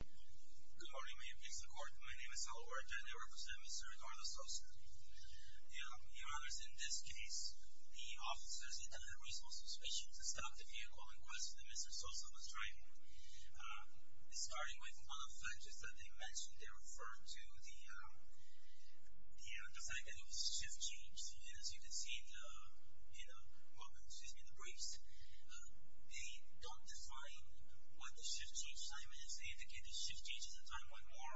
Good morning, my name is Aluerto and I represent Mr. Eduardo Sosa. Your Honor, in this case, the officers intended a reasonable suspicion to stop the vehicle in question that Mr. Sosa was driving. Starting with one of the factors that they mentioned, they referred to the fact that it was shift-change. As you can see in the briefs, they don't define what the shift-change time is. They indicate the shift-change is the time when more,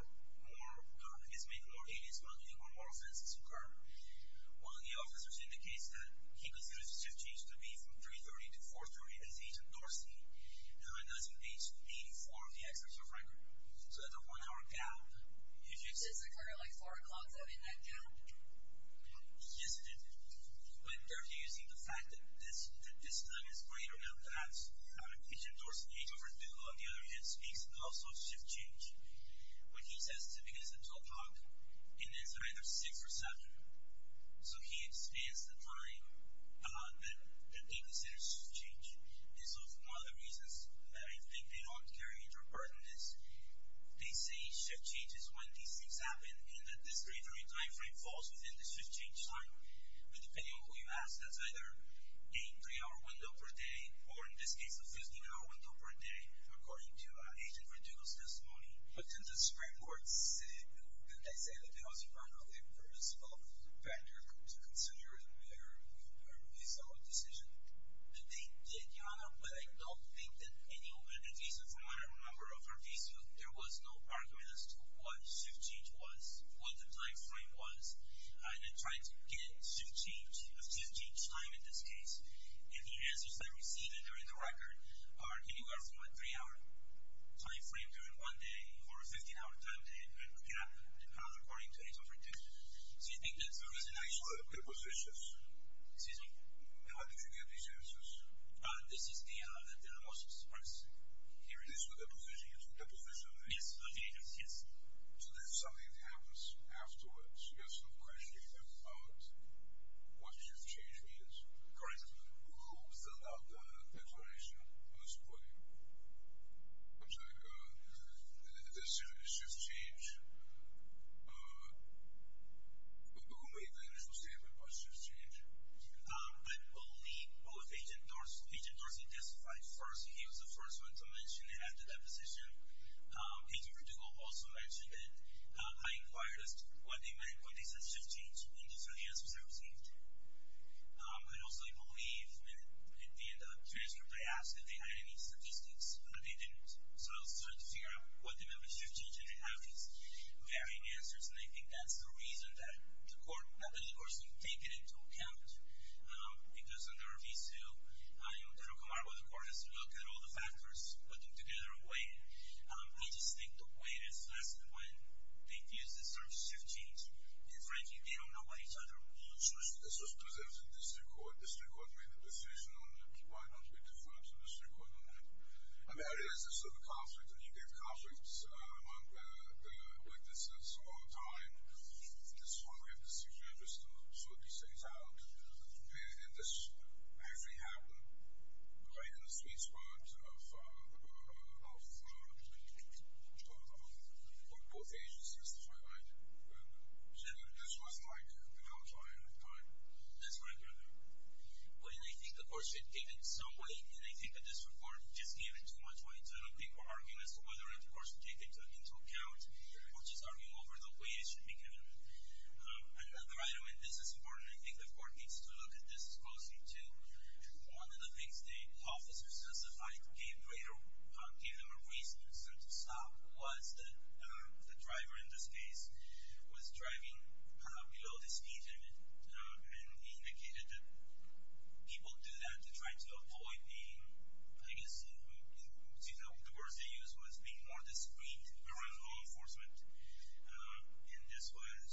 I guess maybe more aliens are coming or more offenses occur. One of the officers indicates that he considers the shift-change to be from 3.30 to 4.30 as Agent Dorsey, and when that's engaged, 84 of the experts are frightened. So that's a one-hour gap. Did you say it's occurring at like 4 o'clock? Is that in that gap? Yes, it is. But they're using the fact that this time is greater than that. Agent Dorsey, the agent from Google on the other hand, speaks also of shift-change. When he says to begin at 12 o'clock, it ends at either 6 or 7. So he expands the time that they consider shift-change. One of the reasons that I think they don't carry it or burden this, they say shift-change is when these things happen and that this greater timeframe falls within the shift-change time. But depending on who you ask, that's either a three-hour window per day, or in this case, a 15-hour window per day, according to Agent Redugo's testimony. But didn't the spread words say, didn't they say that they also found out the purpose of the fact that they were considering a really solid decision? They did, Johanna. But I don't think that any organization, from what I remember of Arvizio, there was no argument as to what shift-change was, what the timeframe was. And they tried to get shift-change, a shift-change time in this case. And the answers they received during the record are anywhere from a three-hour timeframe during one day, or a 15-hour time period depending on, according to Agent Redugo. Do you think that's a resonation? The positions. Excuse me? How did you get these answers? This is the answer that was expressed. Here it is with the positions. The positions. Yes, the agents, yes. So there's something that happens afterwards. There's no question about what shift-change is. Correct. Who filled out the declaration on this point? I'm sorry. The decision is shift-change. Who made the initial statement about shift-change? I believe Agent Dorsey testified first. He was the first one to mention it at the deposition. Agent Redugo also mentioned it. I inquired as to what they meant when they said shift-change, and these are the answers I received. I also believe that at the end of the transcript, they asked if they had any statistics, but they didn't. So I started to figure out what they meant by shift-change, and they have these varying answers, and I think that's the reason that the courts didn't take it into account. It doesn't ever be so. They don't come out with a court that has to look at all the factors, put them together, and weigh it. I just think the weight is less than when they've used this term shift-change. Frank, you don't know what he said. This was presented to the district court. The district court made the decision on it. Why don't we defer to the district court on that? I mean, there is a sort of conflict, and you get conflicts among the witnesses all the time. This is why we have to sit here just to sort these things out. And this actually happened right in the sweet spot of both agents who testified, right? Shift-change was like the majority of the time. That's right. But I think the court should give it some weight, and I think the district court just gave it too much weight. I don't think we're arguing as to whether it was taken into account. We'll just argue over the weight it should be given. Another item, and this is important, I think the court needs to look at this closely, too. One of the things the officers testified gave them a reason to stop was that the driver in this case was driving below the speed limit, and he indicated that people do that to try to avoid being, I guess, you know, the words they use was being more discreet around law enforcement. And this was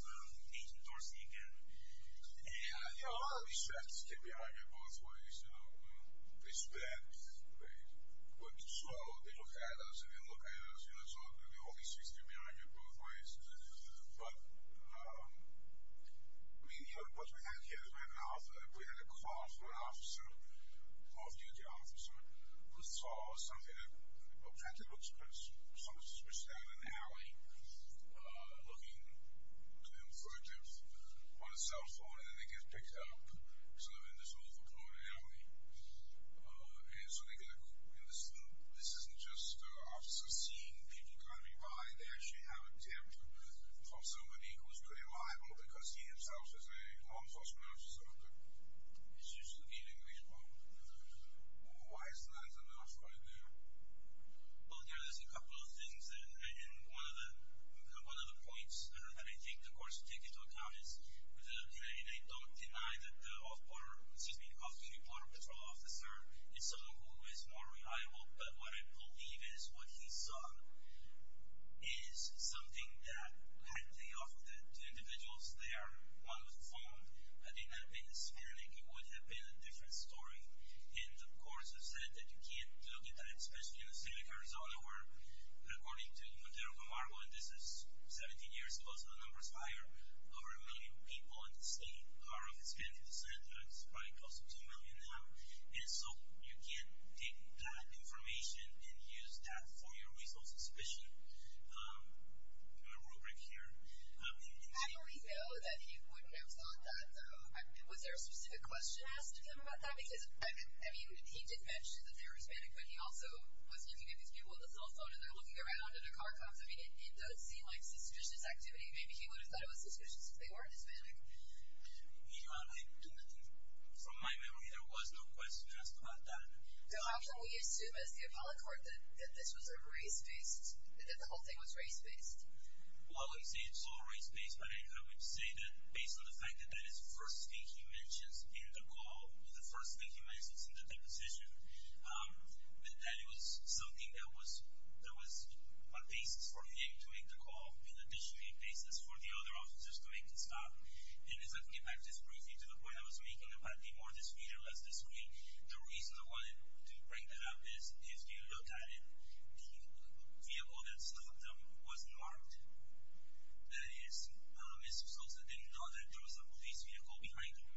Agent Dorsey again. Yeah, a lot of these facts stick behind you both ways. They speak, they look slow, they look at us, and they look at us. You know, it's not going to be always sticking behind you both ways. But, I mean, what we have here is right now, we had a call from an officer, an off-duty officer, who saw something that looked like someone switched out of an alley, looking for him on a cell phone, and then they get picked up. So they're in this awful corner of the alley. And so they get a call. And this isn't just officers seeing people driving by. They actually have a tip from somebody who's pretty liable because he himself is a law enforcement officer. It's just a meaningless call. Why isn't that enough right now? Well, yeah, there's a couple of things. And one of the points that I think the courts need to take into account is they don't deny that the off-duty border patrol officer is someone who is more liable. But what I believe is what he saw is something that, had they offered it to individuals there while on the phone, it didn't have been a smear leak. It would have been a different story. And the courts have said that you can't look at that, especially in a city like Arizona, where, according to the New York Times, and this is 17 years ago, so the number is higher, over a million people in the state are of Hispanic descent. It's probably close to 2 million now. And so you can't take that information and use that for your resource suspicion. I have a rubric here. I already know that he wouldn't have thought that. Was there a specific question asked to him about that? Because, I mean, he did mention that they were Hispanic, but he also was looking at these people on the cell phone or they were looking around under car cuffs. I mean, it does seem like suspicious activity. Maybe he would have thought it was suspicious if they weren't Hispanic. You know, I don't know. From my memory, there was no question asked about that. So how can we assume, as the appellate court, that this was sort of race-based, that the whole thing was race-based? Well, I wouldn't say it's all race-based, but I would say that based on the fact that that is the first thing he mentions in the call, the first thing he mentions in the deposition, that it was something that was a basis for him to make the call and additionally a basis for the other officers to make the stop. And if I can get back just briefly to the point I was making about the more disputed or less disputed, the reason I wanted to bring that up is if you look at it, the vehicle that stopped them was marked. That is, Mr. Sosa didn't know that there was a police vehicle behind him.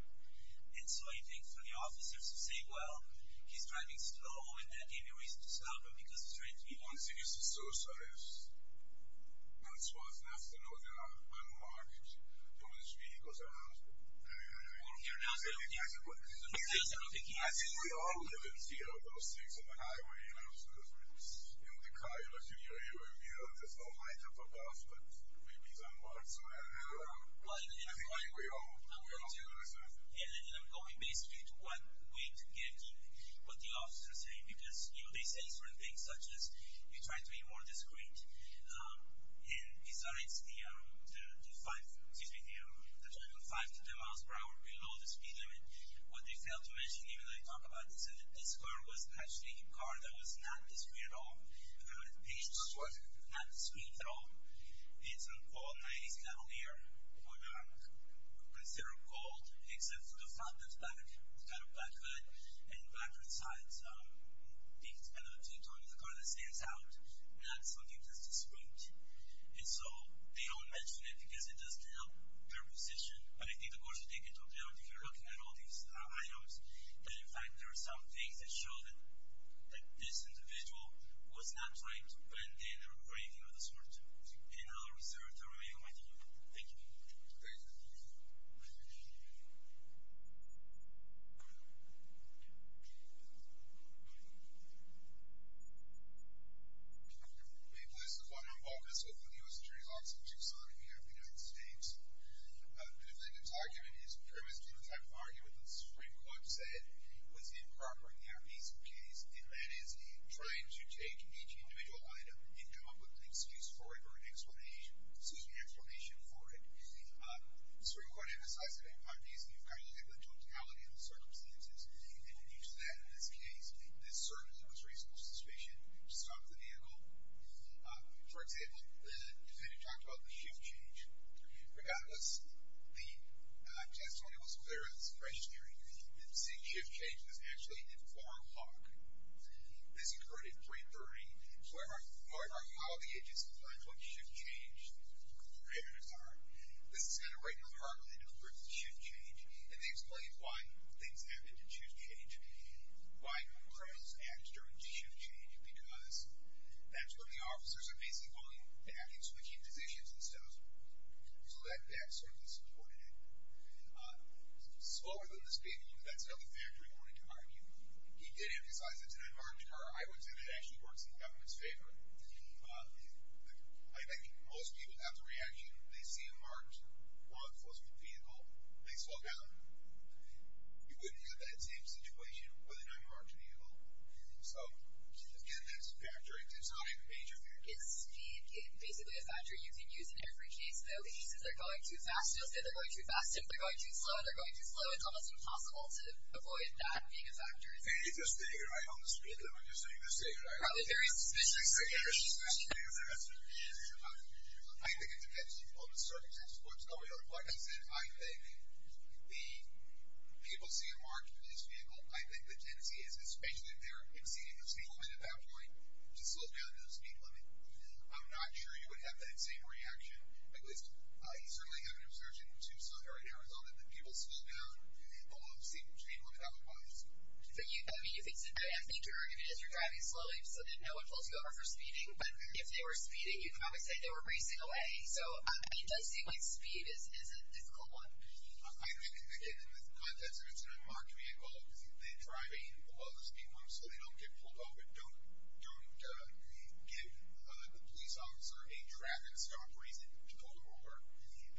And so I think for the officers to say, well, he's driving slow and that gave you a reason to stop him because of strange vehicles. One thing is that Mr. Sosa is not supposed not to know that there are unmarked police vehicles around him. I think we all live in fear of those things on the highway, you know, because in the car, as you hear, you immediately think, oh, my God, but maybe he's unmarked somewhere. I think we all feel the same. And I'm going basically to what we're getting, what the officers are saying, because they say certain things such as you try to be more discreet. And besides the driving 5 to 10 miles per hour below the speed limit, what they fail to mention, even though I talk about this, is that this car was actually a car that was not discreet at all. Not what? Not discreet at all. It's an all-90s Cavalier. We would consider it gold, except for the fact that it's black. It's got a black hood and blacker sides. He can spend up to $2 on a car that stands out, not something that's discreet. And so they don't mention it because it doesn't help their position, but it did, of course, take into account, if you're looking at all these items, that, in fact, there are some things that show that this individual was not trying to put in an engraving of the sort in a reservatory or whatever. Thank you. Thank you. This is one on balkan. So it's one of the U.S. Attorney's Office in Tucson, here in the United States. The defendant's argument is premised on the type of argument that Supreme Court said was improper in the arrest piece of the case, and that is he tried to take each individual item and come up with an excuse for it or an explanation for it. Supreme Court emphasized that in my view, you've got to look at the totality of the circumstances and then use that in this case. This certainly was reasonable suspicion. Stop the vehicle. For example, the defendant talked about the shift change. Regardless, the testimony was clear that it's a fresh hearing. You didn't see a shift change. It was actually at 4 o'clock. This occurred at 3.30. So we're going to argue how the agency decides what shift change conditions are. This is kind of right in the heart of the difference of shift change, and they explain why things happen to shift change, why crimes act during shift change, because that's when the officers are basically going to have you switching positions instead of speaking. So that certainly supported it. Slower than the speaking, that's another factor he wanted to argue. He did emphasize that it's an unmarked car. I would say that it actually works in the government's favor. I think most people, after reaction, they see a marked law enforcement vehicle, they slow down. You wouldn't have that same situation with an unmarked vehicle. So, again, that's a factor. It's not even a major factor. It's basically a factor you can use in every case, though. He says they're going too fast. He'll say they're going too fast. If they're going too slow, they're going too slow. It's almost impossible to avoid that being a factor. He says they're going right on the speed limit. I'm just saying they're safe. They're safe. I think it depends on the circumstances. Like I said, I think the people see a marked police vehicle. I think the tendency is, especially if they're exceeding the speed limit at that point, to slow down to the speed limit. I'm not sure you would have that same reaction. He certainly had an observation in Tucson, Arizona, that people slow down below the speed limit otherwise. I mean, I think your argument is you're driving slowly so that no one pulls you over for speeding. But if they were speeding, you could probably say they were racing away. So, I mean, testing like speed is a difficult one. I think, again, in the context of it's an unmarked vehicle, they're driving below the speed limit so they don't get pulled over. Don't give the police officer a traffic stop reason to pull them over.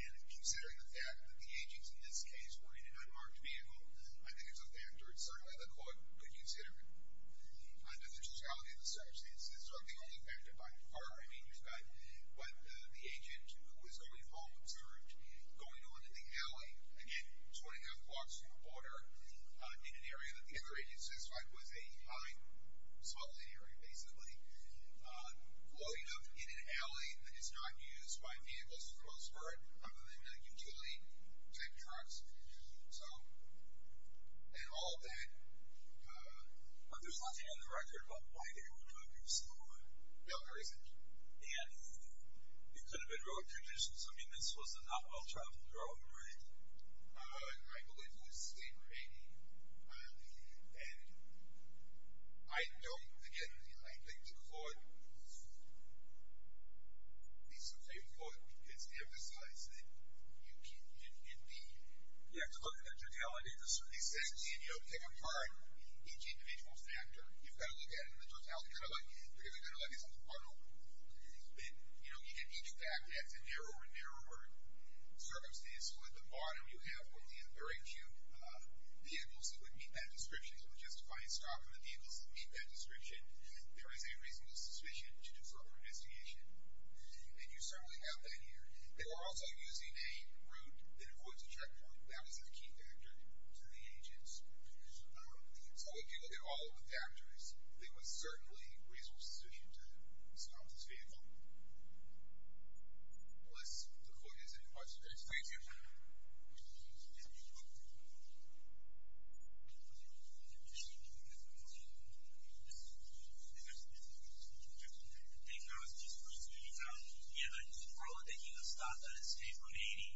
And considering the fact that the AGs in this case were in an unmarked vehicle, I think there's a factor, certainly, that the court could consider. I know the totality of the search is certainly only a factor by far. I mean, you've got the agent who was going home from school, going on to the alley, again, 25 blocks from the border, in an area that the other agent specified was a high-swelling area, basically. Floating up in an alley that is not used by vehicles to cross for it, other than utility type trucks. So, and all of that. But there's nothing on the record about why they were driving slower. No, there isn't. And it could have been road conditions. I mean, this was a not-well-traveled road, right? I believe this is a rainy alley. And I don't, again, I think the court, at least from what you've put, it's emphasized that you can't, in the, you have to look at the totality of the search. He says you can't, you know, take apart each individual factor. You've got to look at it in the totality, kind of like you're going to levy something on them. But, you know, you can't do that. That's a narrower and narrower circumstance. So, at the bottom, you have what the other agent, vehicles that would meet that description. So, we're justifying stopping the vehicles that meet that description. There is a reasonable suspicion to disarm the investigation. And you certainly have that here. They were also using a route that avoids a checkpoint. That was a key factor to the agents. So, if you look at all of the factors, there was certainly reasonable suspicion to disarm this vehicle. Unless the court has any questions. Thank you. Thank you. Thank you. I was just wondering, you know, you're probably taking a stop at a state from Haiti.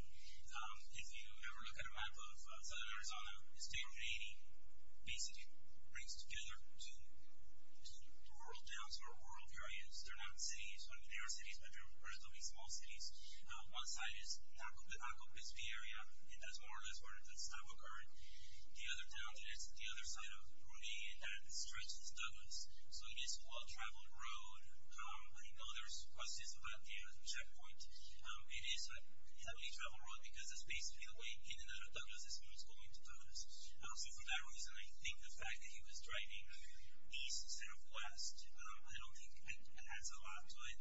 If you ever look at a map of southern Arizona, a state from Haiti basically brings us together to rural towns or rural areas. They're not cities. I mean, they are cities, but they're relatively small cities. One side is the Accompispe area, and that's more or less where the stop occurred. The other town, it's the other side of Rue B, and that stretches Douglas. So, it is a well-traveled road. I know there's questions about the checkpoint. It is a heavily traveled road because it's basically a way in and out of Douglas, as opposed to going to Douglas. So, for that reason, I think the fact that he was driving east instead of west, I don't think it adds a lot to it.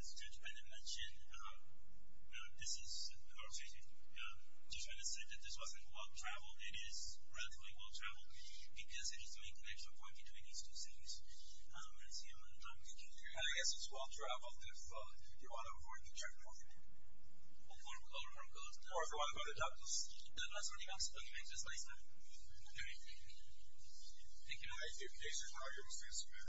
As Judge Bennett mentioned, Judge Bennett said that this wasn't well-traveled. It is relatively well-traveled because it is the main connection point between these two cities. That's the end of my time. Thank you. I guess it's well-traveled if you want to avoid the traffic. Or if you want to go to Douglas. That's all you have to say. Thank you very much. Thank you. Thank you.